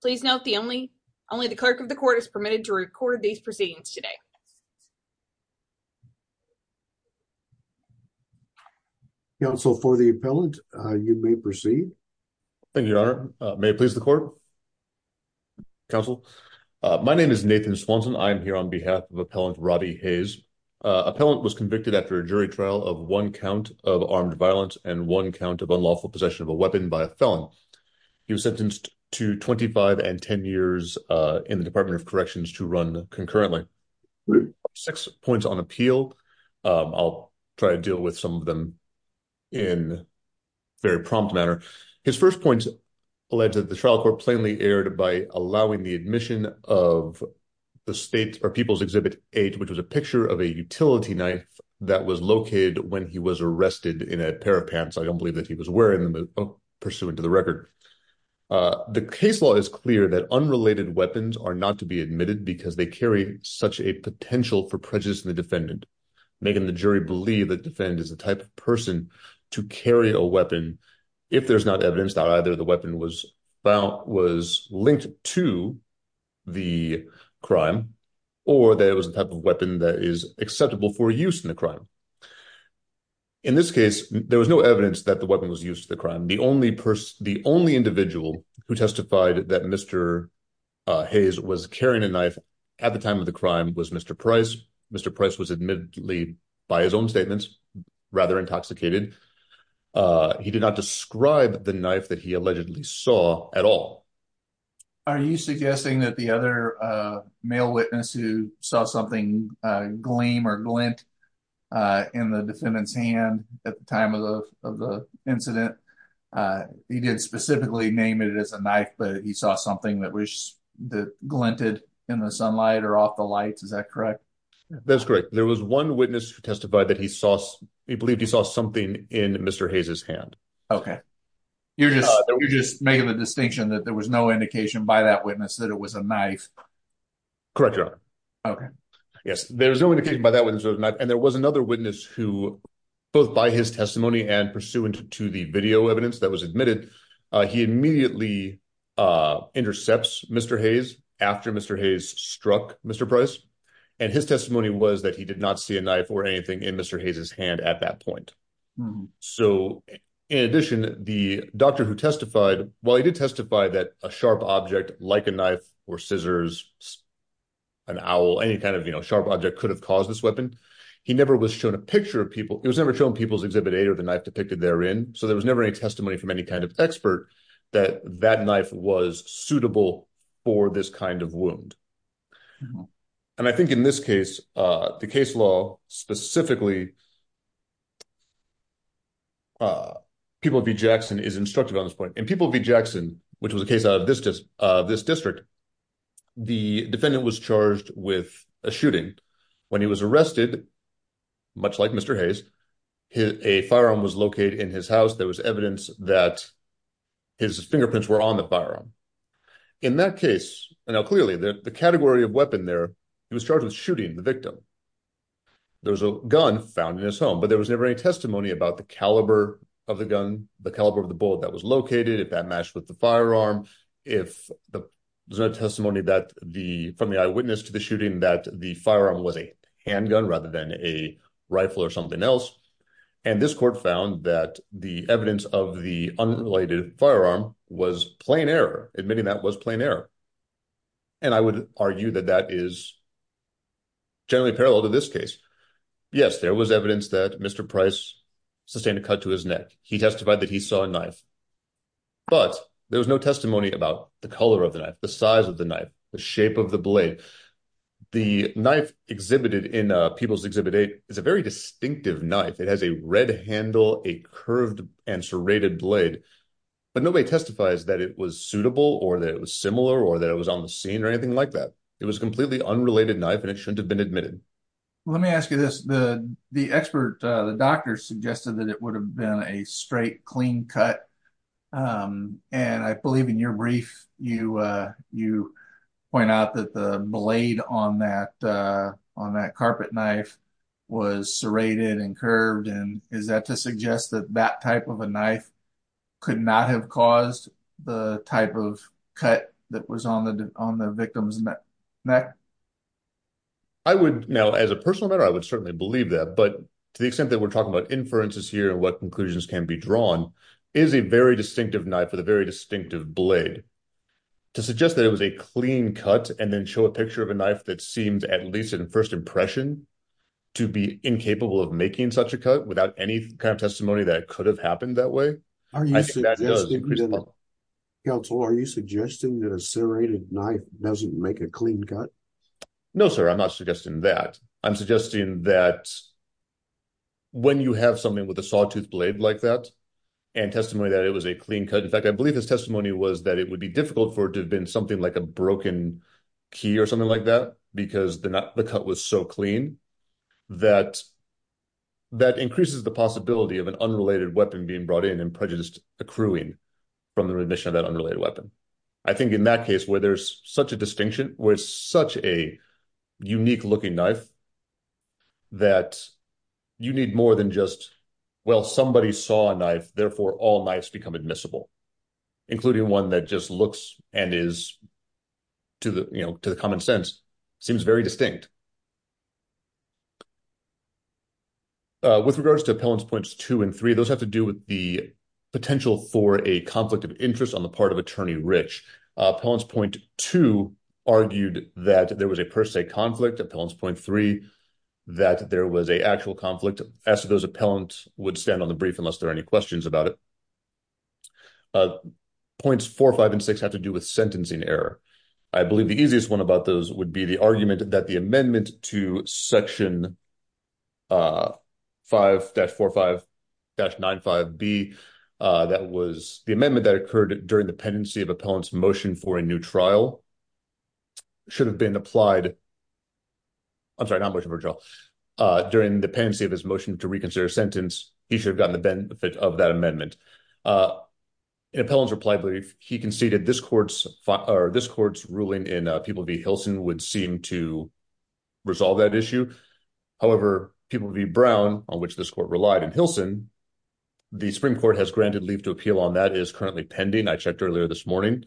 Please note the only only the clerk of the court is permitted to record these proceedings today. Counsel for the appellant, you may proceed. Thank you, Your Honor. May it please the court? Counsel, my name is Nathan Swanson. I am here on behalf of Appellant Robbie Hayes. Appellant was convicted after a jury trial of one count of armed violence and one count of 10 years in the Department of Corrections to run concurrently. Six points on appeal. I'll try to deal with some of them in a very prompt manner. His first point alleged that the trial court plainly erred by allowing the admission of the state or people's Exhibit 8, which was a picture of a utility knife that was located when he was arrested in a pair of pants. I don't believe that he was wearing them, but pursuant to the record. The case law is clear that unrelated weapons are not to be admitted because they carry such a potential for prejudice in the defendant, making the jury believe that defendant is the type of person to carry a weapon if there's not evidence that either the weapon was found was linked to the crime or that it was a type of weapon that is acceptable for use in the crime. In this case, there was no evidence that the weapon was used to the crime. The only person, the only individual who testified that Mr. Hayes was carrying a knife at the time of the crime was Mr. Price. Mr. Price was admittedly by his own statements rather intoxicated. He did not describe the knife that he allegedly saw at all. Are you suggesting that the other male witness who saw something gleam or glint in the defendant's hand at the time of the incident, he didn't specifically name it as a knife, but he saw something that was glinted in the sunlight or off the lights. Is that correct? That's correct. There was one witness who testified that he saw, he believed he saw something in Mr. Hayes' hand. Okay. You're just making the distinction that there was no indication by that witness that it was a knife. Correct, Your Honor. Okay. Yes. There was no indication by that witness that it was a knife. And there was another witness who, both by his testimony and pursuant to the video evidence that was admitted, he immediately intercepts Mr. Hayes after Mr. Hayes struck Mr. Price. And his testimony was that he did not see a knife or anything in Mr. Hayes' hand at that point. So in addition, the doctor who any kind of, you know, sharp object could have caused this weapon. He never was shown a picture of people. It was never shown people's exhibit eight or the knife depicted therein. So there was never any testimony from any kind of expert that that knife was suitable for this kind of wound. And I think in this case, the case law specifically, People v. Jackson is instructive on this point. In People v. Jackson, which was a case out of this district, the defendant was charged with a shooting. When he was arrested, much like Mr. Hayes, a firearm was located in his house. There was evidence that his fingerprints were on the firearm. In that case, and now clearly the category of weapon there, he was charged with shooting the victim. There was a gun found in his home, but there was never any testimony about the caliber of the gun, the caliber of the bullet that was located, if that matched with the firearm, if there's no testimony from the eyewitness to the shooting that the firearm was a handgun rather than a rifle or something else. And this court found that the evidence of the unrelated firearm was plain error, admitting that was plain error. And I would argue that that is generally parallel to this case. Yes, there was evidence that Mr. Price sustained a cut to his neck. He testified that he saw a knife, but there was no testimony about the color of the knife, the size of the knife, the shape of the blade. The knife exhibited in People's Exhibit 8 is a very distinctive knife. It has a red handle, a curved and serrated blade, but nobody testifies that it was suitable or that it was similar or that it was on the scene or anything like that. It was a completely unrelated knife and it shouldn't have been admitted. Let me ask you this. The expert, the doctor, suggested that it would have been a straight, clean cut. And I believe in your brief, you point out that the blade on that carpet knife was serrated and curved. And is that to suggest that that type of a knife could not have caused the type of cut that was on the victim's neck? Now, as a personal matter, I would certainly believe that. But to the extent that we're talking about inferences here and what conclusions can be drawn, it is a very distinctive knife with a very distinctive blade. To suggest that it was a clean cut and then show a picture of a knife that seems, at least in first impression, to be incapable of making such a cut without any kind of testimony that it could have happened that way, I think that increases the problem. Counsel, are you suggesting that a serrated knife doesn't make a clean cut? No, sir. I'm not suggesting that. I'm suggesting that when you have something with a sawtooth blade like that and testimony that it was a clean cut, in fact, I believe his testimony was that it would be difficult for it to have been something like a broken key or something like that because the cut was so clean, that increases the possibility of an unrelated weapon being brought in and prejudice accruing from the remission of that unrelated weapon. I think in that case where there's such a distinction, where it's such a unique looking knife, that you need more than just, well, somebody saw a knife, therefore all knives become admissible, including one that just looks and is to the common sense, seems very distinct. With regards to appellants points two and three, those have to do with the potential for a conflict of interest on the part of attorney rich. Appellants point two argued that there was a per se conflict. Appellants point three, that there was a actual conflict. As to those appellants would stand on the brief unless there are any questions about it. Points four, five, and six have to do with sentencing error. I believe the easiest one about those would be the argument that the amendment to section 5-45-95B, that was the amendment that occurred during the pendency of appellant's motion for a new trial, should have been applied. I'm sorry, not motion for trial. During the pendency of his motion to reconsider a sentence, he should have gotten the benefit of that amendment. In appellant's reply brief, he conceded this court's ruling in People v. Hilson would seem to resolve that issue. However, People v. Brown, on which this court relied in Hilson, the Supreme Court has granted leave to appeal on that is currently pending. I checked earlier this morning.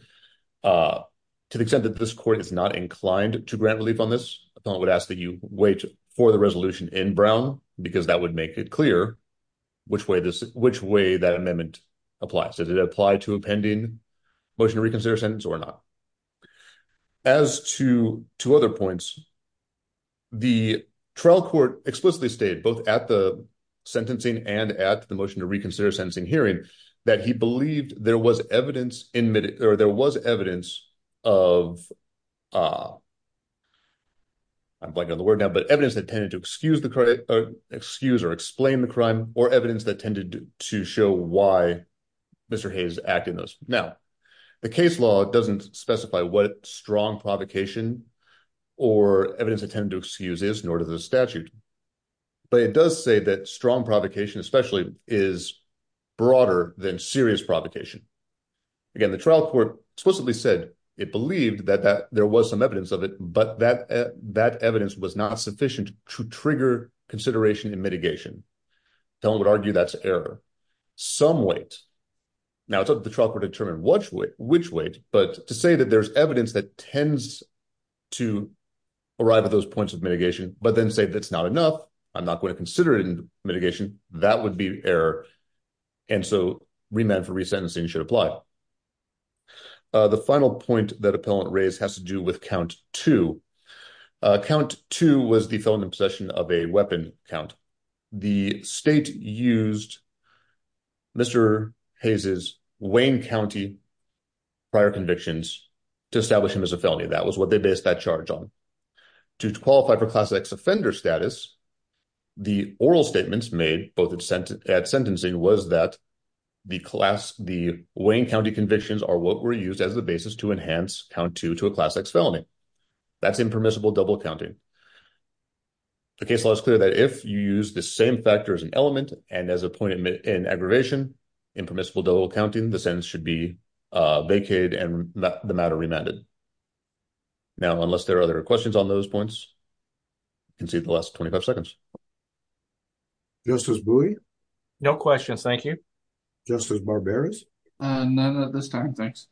To the extent that this court is not inclined to grant relief on this, appellant would ask that you wait for the resolution in Brown because that would make it clear which way that amendment applies. Does it apply to a pending motion to reconsider a sentence or not? As to two other points, the trial court explicitly stated, both at the sentencing and at the motion to reconsider sentencing hearing, that he believed there was evidence of, I'm blanking on the word now, but evidence that tended to excuse or explain the crime or evidence that tended to show why Mr. Hayes acted in those. Now, the case law doesn't specify what strong provocation or evidence it tended to excuse is, nor does the statute, but it does say that strong provocation especially is broader than serious provocation. Again, the trial court explicitly said it believed that there was some evidence of it, but that evidence was not sufficient to trigger consideration and mitigation. Appellant would argue that's error. Some weight. Now, it's up to the trial court to determine which weight, but to say that there's evidence that tends to arrive at those points of mitigation, but then say that's not enough, I'm not going to consider it in mitigation, that would be error, and so remand for resentencing should apply. The final point that appellant raised has to do with count two. Count two was the felony possession of a weapon count. The state used Mr. Hayes' Wayne County prior convictions to establish him as a felony. That was what they based that charge on. To qualify for class X offender status, the oral statements made both at sentencing was that the class, the Wayne County convictions are what were used as the basis to enhance count two to class X felony. That's impermissible double counting. The case law is clear that if you use the same factor as an element and as a point in aggravation, impermissible double counting, the sentence should be vacated and the matter remanded. Now, unless there are other questions on those points, concede the last 25 seconds. Justice Bowie? No questions, thank you. Justice Barberis? None at this time, thanks.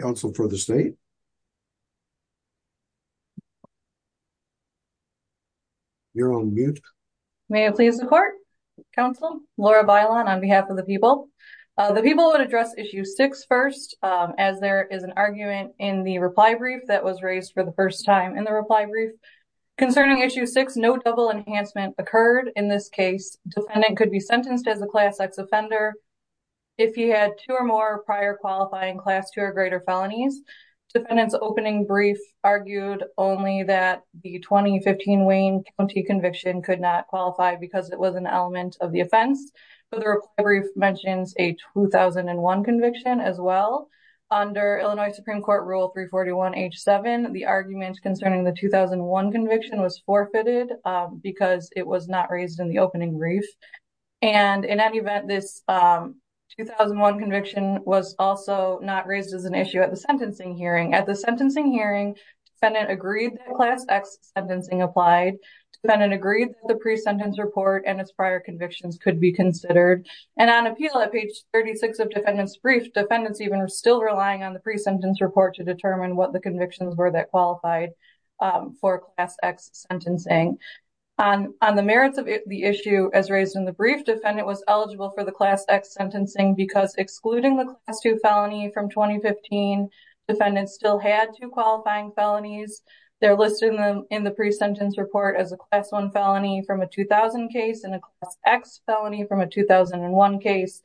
Council for the state? You're on mute. May I please report? Council, Laura Bailon on behalf of the people. The people would address issue six first, as there is an argument in the reply brief that was raised for first time in the reply brief. Concerning issue six, no double enhancement occurred in this case. Defendant could be sentenced as a class X offender if he had two or more prior qualifying class two or greater felonies. Defendant's opening brief argued only that the 2015 Wayne County conviction could not qualify because it was an element of the offense, but the reply brief mentions a 2001 conviction as well. Under Illinois Supreme Court Rule 341 H7, the argument concerning the 2001 conviction was forfeited because it was not raised in the opening brief. And in any event, this 2001 conviction was also not raised as an issue at the sentencing hearing. At the sentencing hearing, defendant agreed that class X sentencing applied. Defendant agreed that the pre-sentence report and prior convictions could be considered. And on appeal at page 36 of defendant's brief, defendant's even still relying on the pre-sentence report to determine what the convictions were that qualified for class X sentencing. On the merits of the issue as raised in the brief, defendant was eligible for the class X sentencing because excluding the class two felony from 2015, defendant still had two qualifying felonies. They're listed in the pre-sentence report as a felony from a 2000 case and a class X felony from a 2001 case.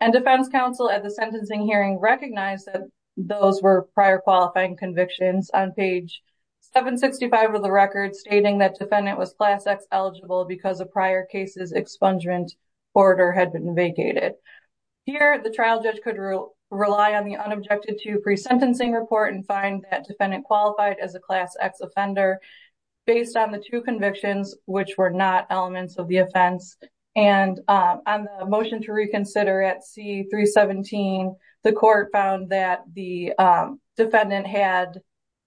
And defense counsel at the sentencing hearing recognized that those were prior qualifying convictions on page 765 of the record stating that defendant was class X eligible because of prior cases expungement order had been vacated. Here, the trial judge could rely on the unobjected to pre-sentencing report and find that defendant qualified as a class X offender based on the two convictions, which were not elements of the offense. And on the motion to reconsider at C-317, the court found that the defendant had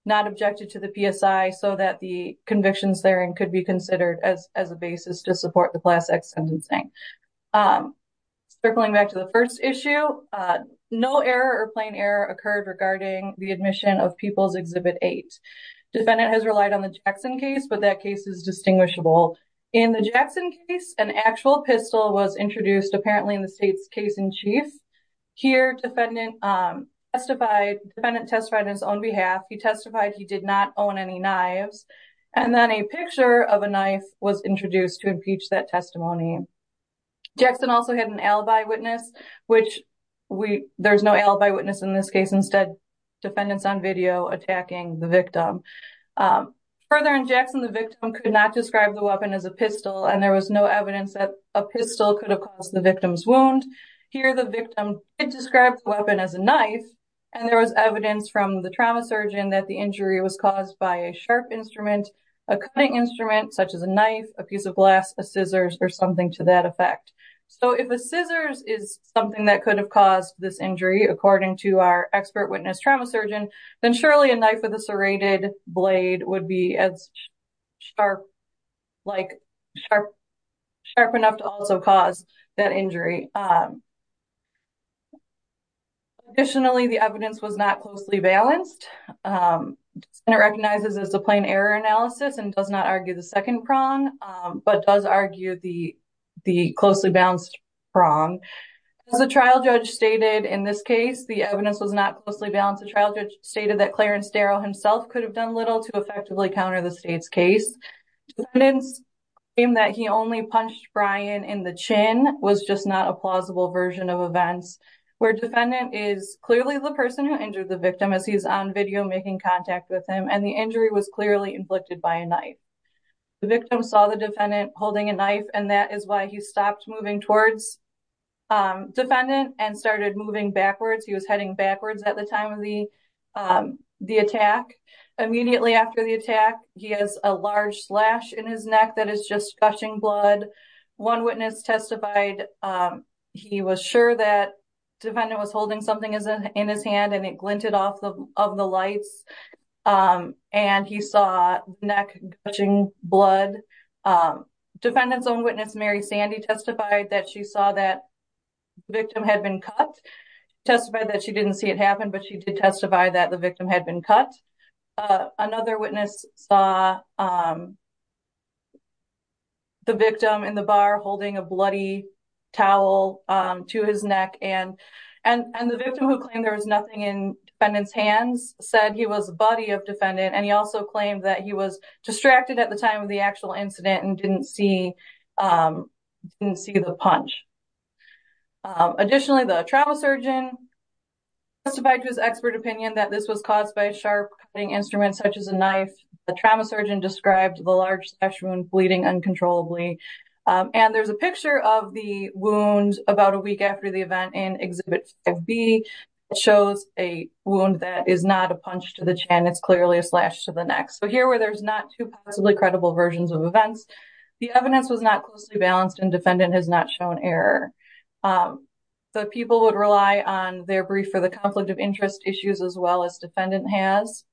not objected to the PSI so that the convictions therein could be considered as a basis to support the class X sentencing. Circling back to the first issue, no error or admission of People's Exhibit 8, defendant has relied on the Jackson case, but that case is distinguishable. In the Jackson case, an actual pistol was introduced apparently in the state's case in chief. Here, defendant testified on his own behalf. He testified he did not own any knives and then a picture of a knife was introduced to impeach that testimony. Jackson also had an eyewitness in this case, instead defendants on video attacking the victim. Further in Jackson, the victim could not describe the weapon as a pistol and there was no evidence that a pistol could have caused the victim's wound. Here, the victim did describe the weapon as a knife and there was evidence from the trauma surgeon that the injury was caused by a sharp instrument, a cutting instrument such as a knife, a piece of glass, a scissors, or something to that effect. If a scissors is something that could have caused this injury, according to our expert witness trauma surgeon, then surely a knife with a serrated blade would be as sharp, like sharp enough to also cause that injury. Additionally, the evidence was not closely balanced and it recognizes as a plain error analysis and does not argue the second prong, but does argue the closely balanced prong. As the trial judge stated in this case, the evidence was not closely balanced. The trial judge stated that Clarence Darrow himself could have done little to effectively counter the state's case. Defendants claim that he only punched Brian in the chin was just not a plausible version of events, where defendant is clearly the person who injured the victim as he's on video making contact with him and the injury was clearly inflicted by a knife. The victim saw the defendant holding a knife and that is why he stopped moving towards defendant and started moving backwards. He was heading backwards at the time of the attack. Immediately after the attack, he has a large slash in his neck that is just gushing blood. One witness testified he was sure that defendant was holding something in his hand and it glinted off of the lights and he saw neck gushing blood. Defendant's own witness, Mary Sandy, testified that she saw that victim had been cut, testified that she didn't see it happen, but she did testify that the victim had been cut. Another witness saw the victim in the bar holding a bloody towel to his neck and the victim who claimed there was nothing in defendant's hands said he was a buddy of defendant and he also claimed that he was distracted at the time of the actual incident and didn't see the punch. Additionally, the trauma surgeon testified to his expert opinion that this was caused by a sharp cutting instrument such as the large slash wound bleeding uncontrollably. There's a picture of the wound about a week after the event in Exhibit 5B. It shows a wound that is not a punch to the chin, it's clearly a slash to the neck. So here where there's not two possibly credible versions of events, the evidence was not closely balanced and defendant has not shown error. The people would rely on their brief for the conflict of interest issues as well as defendant has.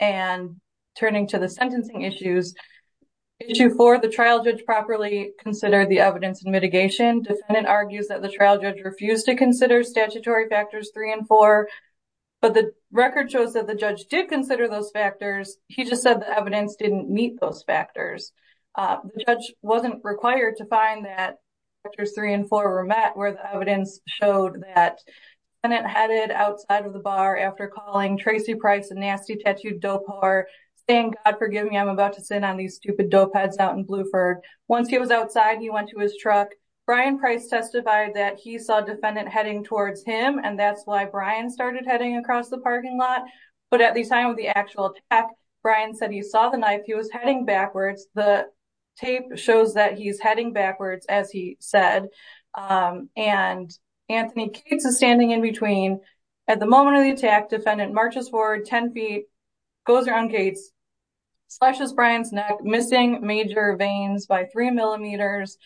And turning to the sentencing issues, Issue 4, the trial judge properly considered the evidence in mitigation. Defendant argues that the trial judge refused to consider statutory factors 3 and 4, but the record shows that the judge did consider those factors, he just said the evidence didn't meet those factors. The judge wasn't required to find that factors 3 and 4 were met where the bar after calling Tracy Price a nasty tattooed dope whore saying, God forgive me, I'm about to sit on these stupid dope heads out in Bluford. Once he was outside, he went to his truck. Brian Price testified that he saw defendant heading towards him and that's why Brian started heading across the parking lot. But at the time of the actual attack, Brian said he saw the knife, he was heading backwards. The tape shows that he's heading backwards as he said. And Anthony Cates is standing in between. At the moment of the attack, defendant marches forward 10 feet, goes around Cates, slashes Brian's neck, missing major veins by three millimeters,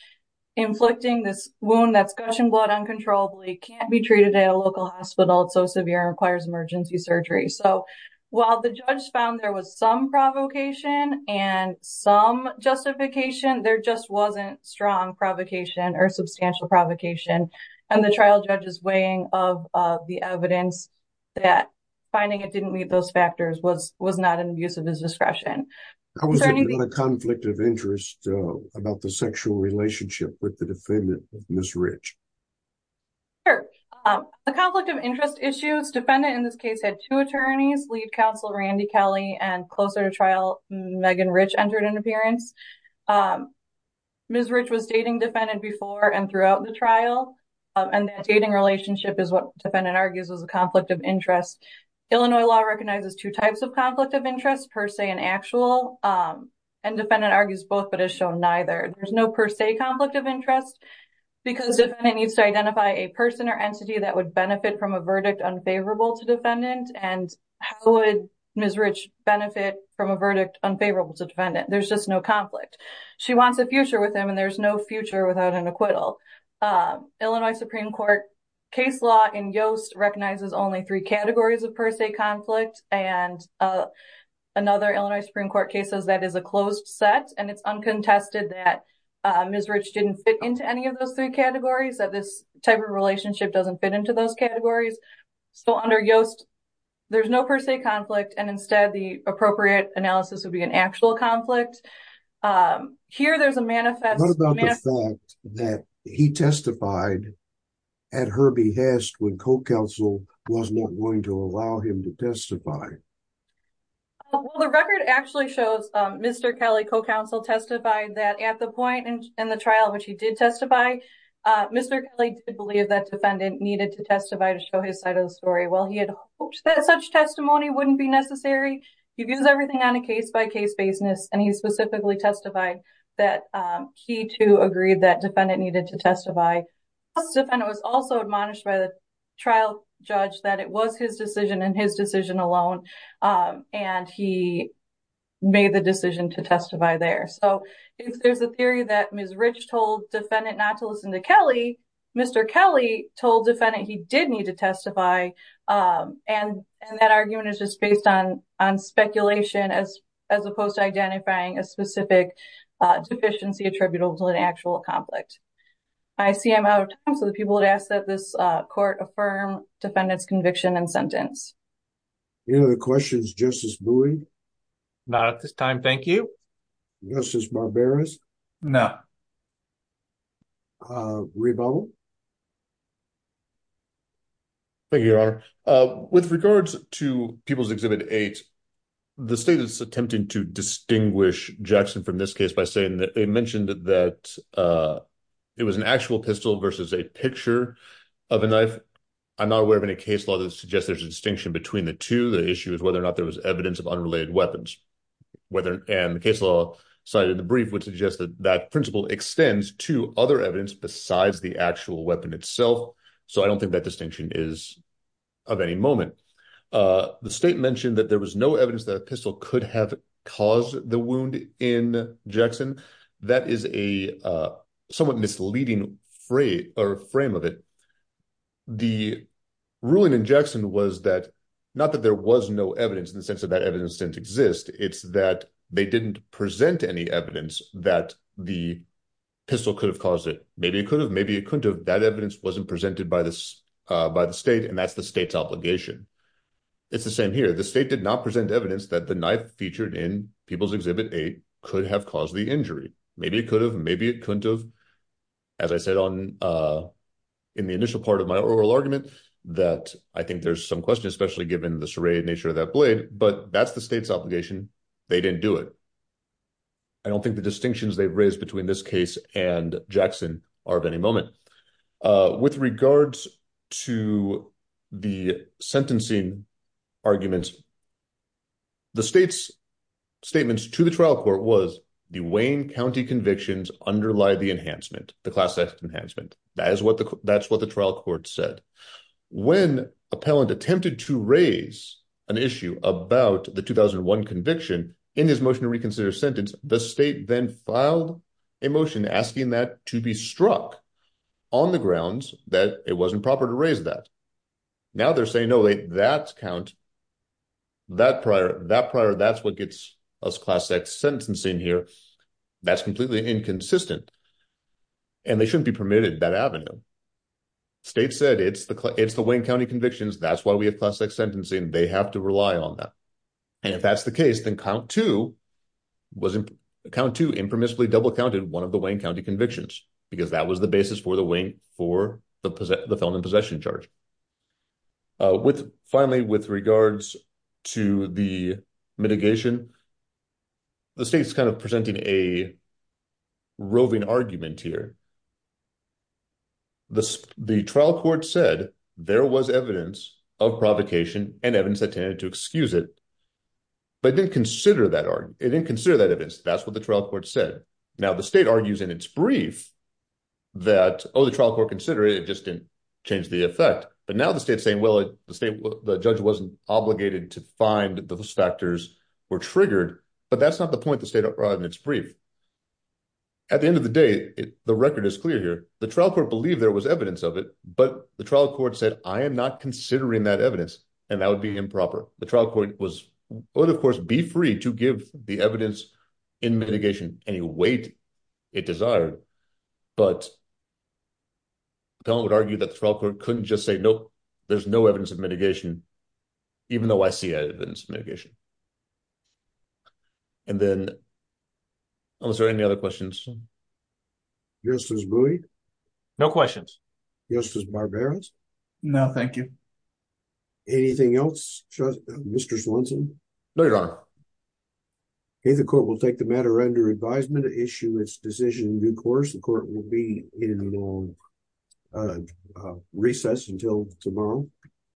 inflicting this wound that's gushing blood uncontrollably, can't be treated at a local hospital, it's so severe and requires emergency surgery. So while the judge found there was some provocation and some justification, there just wasn't strong provocation or substantial provocation. And the trial judge's weighing of the evidence that finding it didn't meet those factors was not in the use of his discretion. How was there not a conflict of interest about the sexual relationship with the defendant, Ms. Rich? Sure. The conflict of interest issues, defendant in this case had two attorneys, lead counsel Randy Kelly and closer to trial, Megan Rich entered an appearance. Ms. Rich was dating defendant before and throughout the trial. And that dating relationship is what defendant argues was a conflict of interest. Illinois law recognizes two types of conflict of interest, per se and actual. And defendant argues both but has shown neither. There's no per se conflict of interest because the defendant needs to identify a person or entity that would benefit from a verdict unfavorable to defendant. And how would Ms. Rich benefit from a verdict unfavorable to defendant? There's just no conflict. She wants a future with him and there's no future without an acquittal. Illinois Supreme Court case law in Yoast recognizes only three categories of per se conflict and another Illinois Supreme Court case says that is a closed set and it's uncontested that Ms. Rich didn't fit into any of those three categories, that this type of relationship doesn't fit into those categories. So under Yoast, there's no per se conflict and instead the appropriate analysis would be an actual conflict. Here there's a manifest. What about the fact that he testified at her behest when co-counsel was not going to allow him to testify? Well the record actually shows Mr. Kelly co-counsel testified that at the point in the trial which he did testify, Mr. Kelly did believe that defendant needed to testify to show his side of the story. Well he had hoped that such testimony wouldn't be necessary. He views everything on a case by case basis and he specifically testified that he too agreed that defendant needed to testify. It was also admonished by the trial judge that it was his decision and his decision alone and he made the decision to testify there. So if there's a theory that Ms. Rich told defendant not to listen to Kelly, Mr. Kelly told defendant he did need to testify and that argument is just based on speculation as opposed to identifying a specific deficiency attributable to an actual conflict. I see I'm out of time so the people would ask that this court affirm defendant's conviction and sentence. Any other questions? Justice Bowie? Not at this time, thank you. Justice Barbera? No. Rebo? Thank you, Your Honor. With regards to People's Exhibit 8, the state is attempting to distinguish Jackson from this case by saying that they mentioned that it was an actual pistol versus a picture of a knife. I'm not aware of any case law that suggests there's a distinction between the two. The issue is whether or not there was evidence of unrelated weapons and the case law cited in the brief would suggest that that principle extends to other evidence besides the actual weapon itself. So I don't think that distinction is of any moment. The state mentioned that there was no evidence that a pistol could have caused the wound in Jackson. That is a somewhat misleading frame of it. The ruling in Jackson was that not that there was no evidence in the sense of that evidence didn't exist, it's that they didn't present any evidence that the evidence wasn't presented by the state and that's the state's obligation. It's the same here. The state did not present evidence that the knife featured in People's Exhibit 8 could have caused the injury. Maybe it could have, maybe it couldn't have. As I said in the initial part of my oral argument that I think there's some question, especially given the serrated nature of that blade, but that's the state's obligation. They didn't do it. I don't think the distinctions they've raised between this case and Jackson are of any moment. With regards to the sentencing arguments, the state's statements to the trial court was the Wayne County convictions underlie the enhancement, the class X enhancement. That's what the trial court said. When appellant attempted to raise an issue about the 2001 conviction in his motion to reconsider sentence, the state then filed a motion asking that to be struck on the grounds that it wasn't proper to raise that. Now they're saying, no, that count, that prior, that prior, that's what gets us class X sentencing here. That's completely inconsistent and they shouldn't be permitted that avenue. State said it's the, it's the Wayne County convictions. That's why we have class X sentencing. They have to rely on that. And if that's the case, then count two was, count two impermissibly double counted one of the Wayne County convictions, because that was the basis for the Wayne, for the felon in possession charge. Finally, with regards to the mitigation, the state's kind of presenting a roving argument here. The trial court said there was evidence of provocation and evidence that tended to excuse it, but it didn't consider that argument. It didn't consider that evidence. That's what the trial court said. Now the state argues in its brief that, oh, the trial court consider it, it just didn't change the effect. But now the state's saying, well, the state, the judge wasn't obligated to find that those factors were triggered, but that's not the point the state brought in its brief. At the end of the day, the record is clear here. The trial court believed there was evidence of it, but the trial court said, I am not considering that evidence. And that would be improper. The trial court was, would of course be free to give the evidence in mitigation any weight it desired, but the felon would argue that the trial court couldn't just say, nope, there's no evidence of mitigation, even though I see evidence of mitigation. And then, was there any other questions? Justice Bowie? No questions. Justice Barbaros? No, thank you. Anything else, Mr. Swenson? No, Your Honor. Okay, the court will take the matter under advisement to issue its decision in due course. The court will be in a long recess until tomorrow.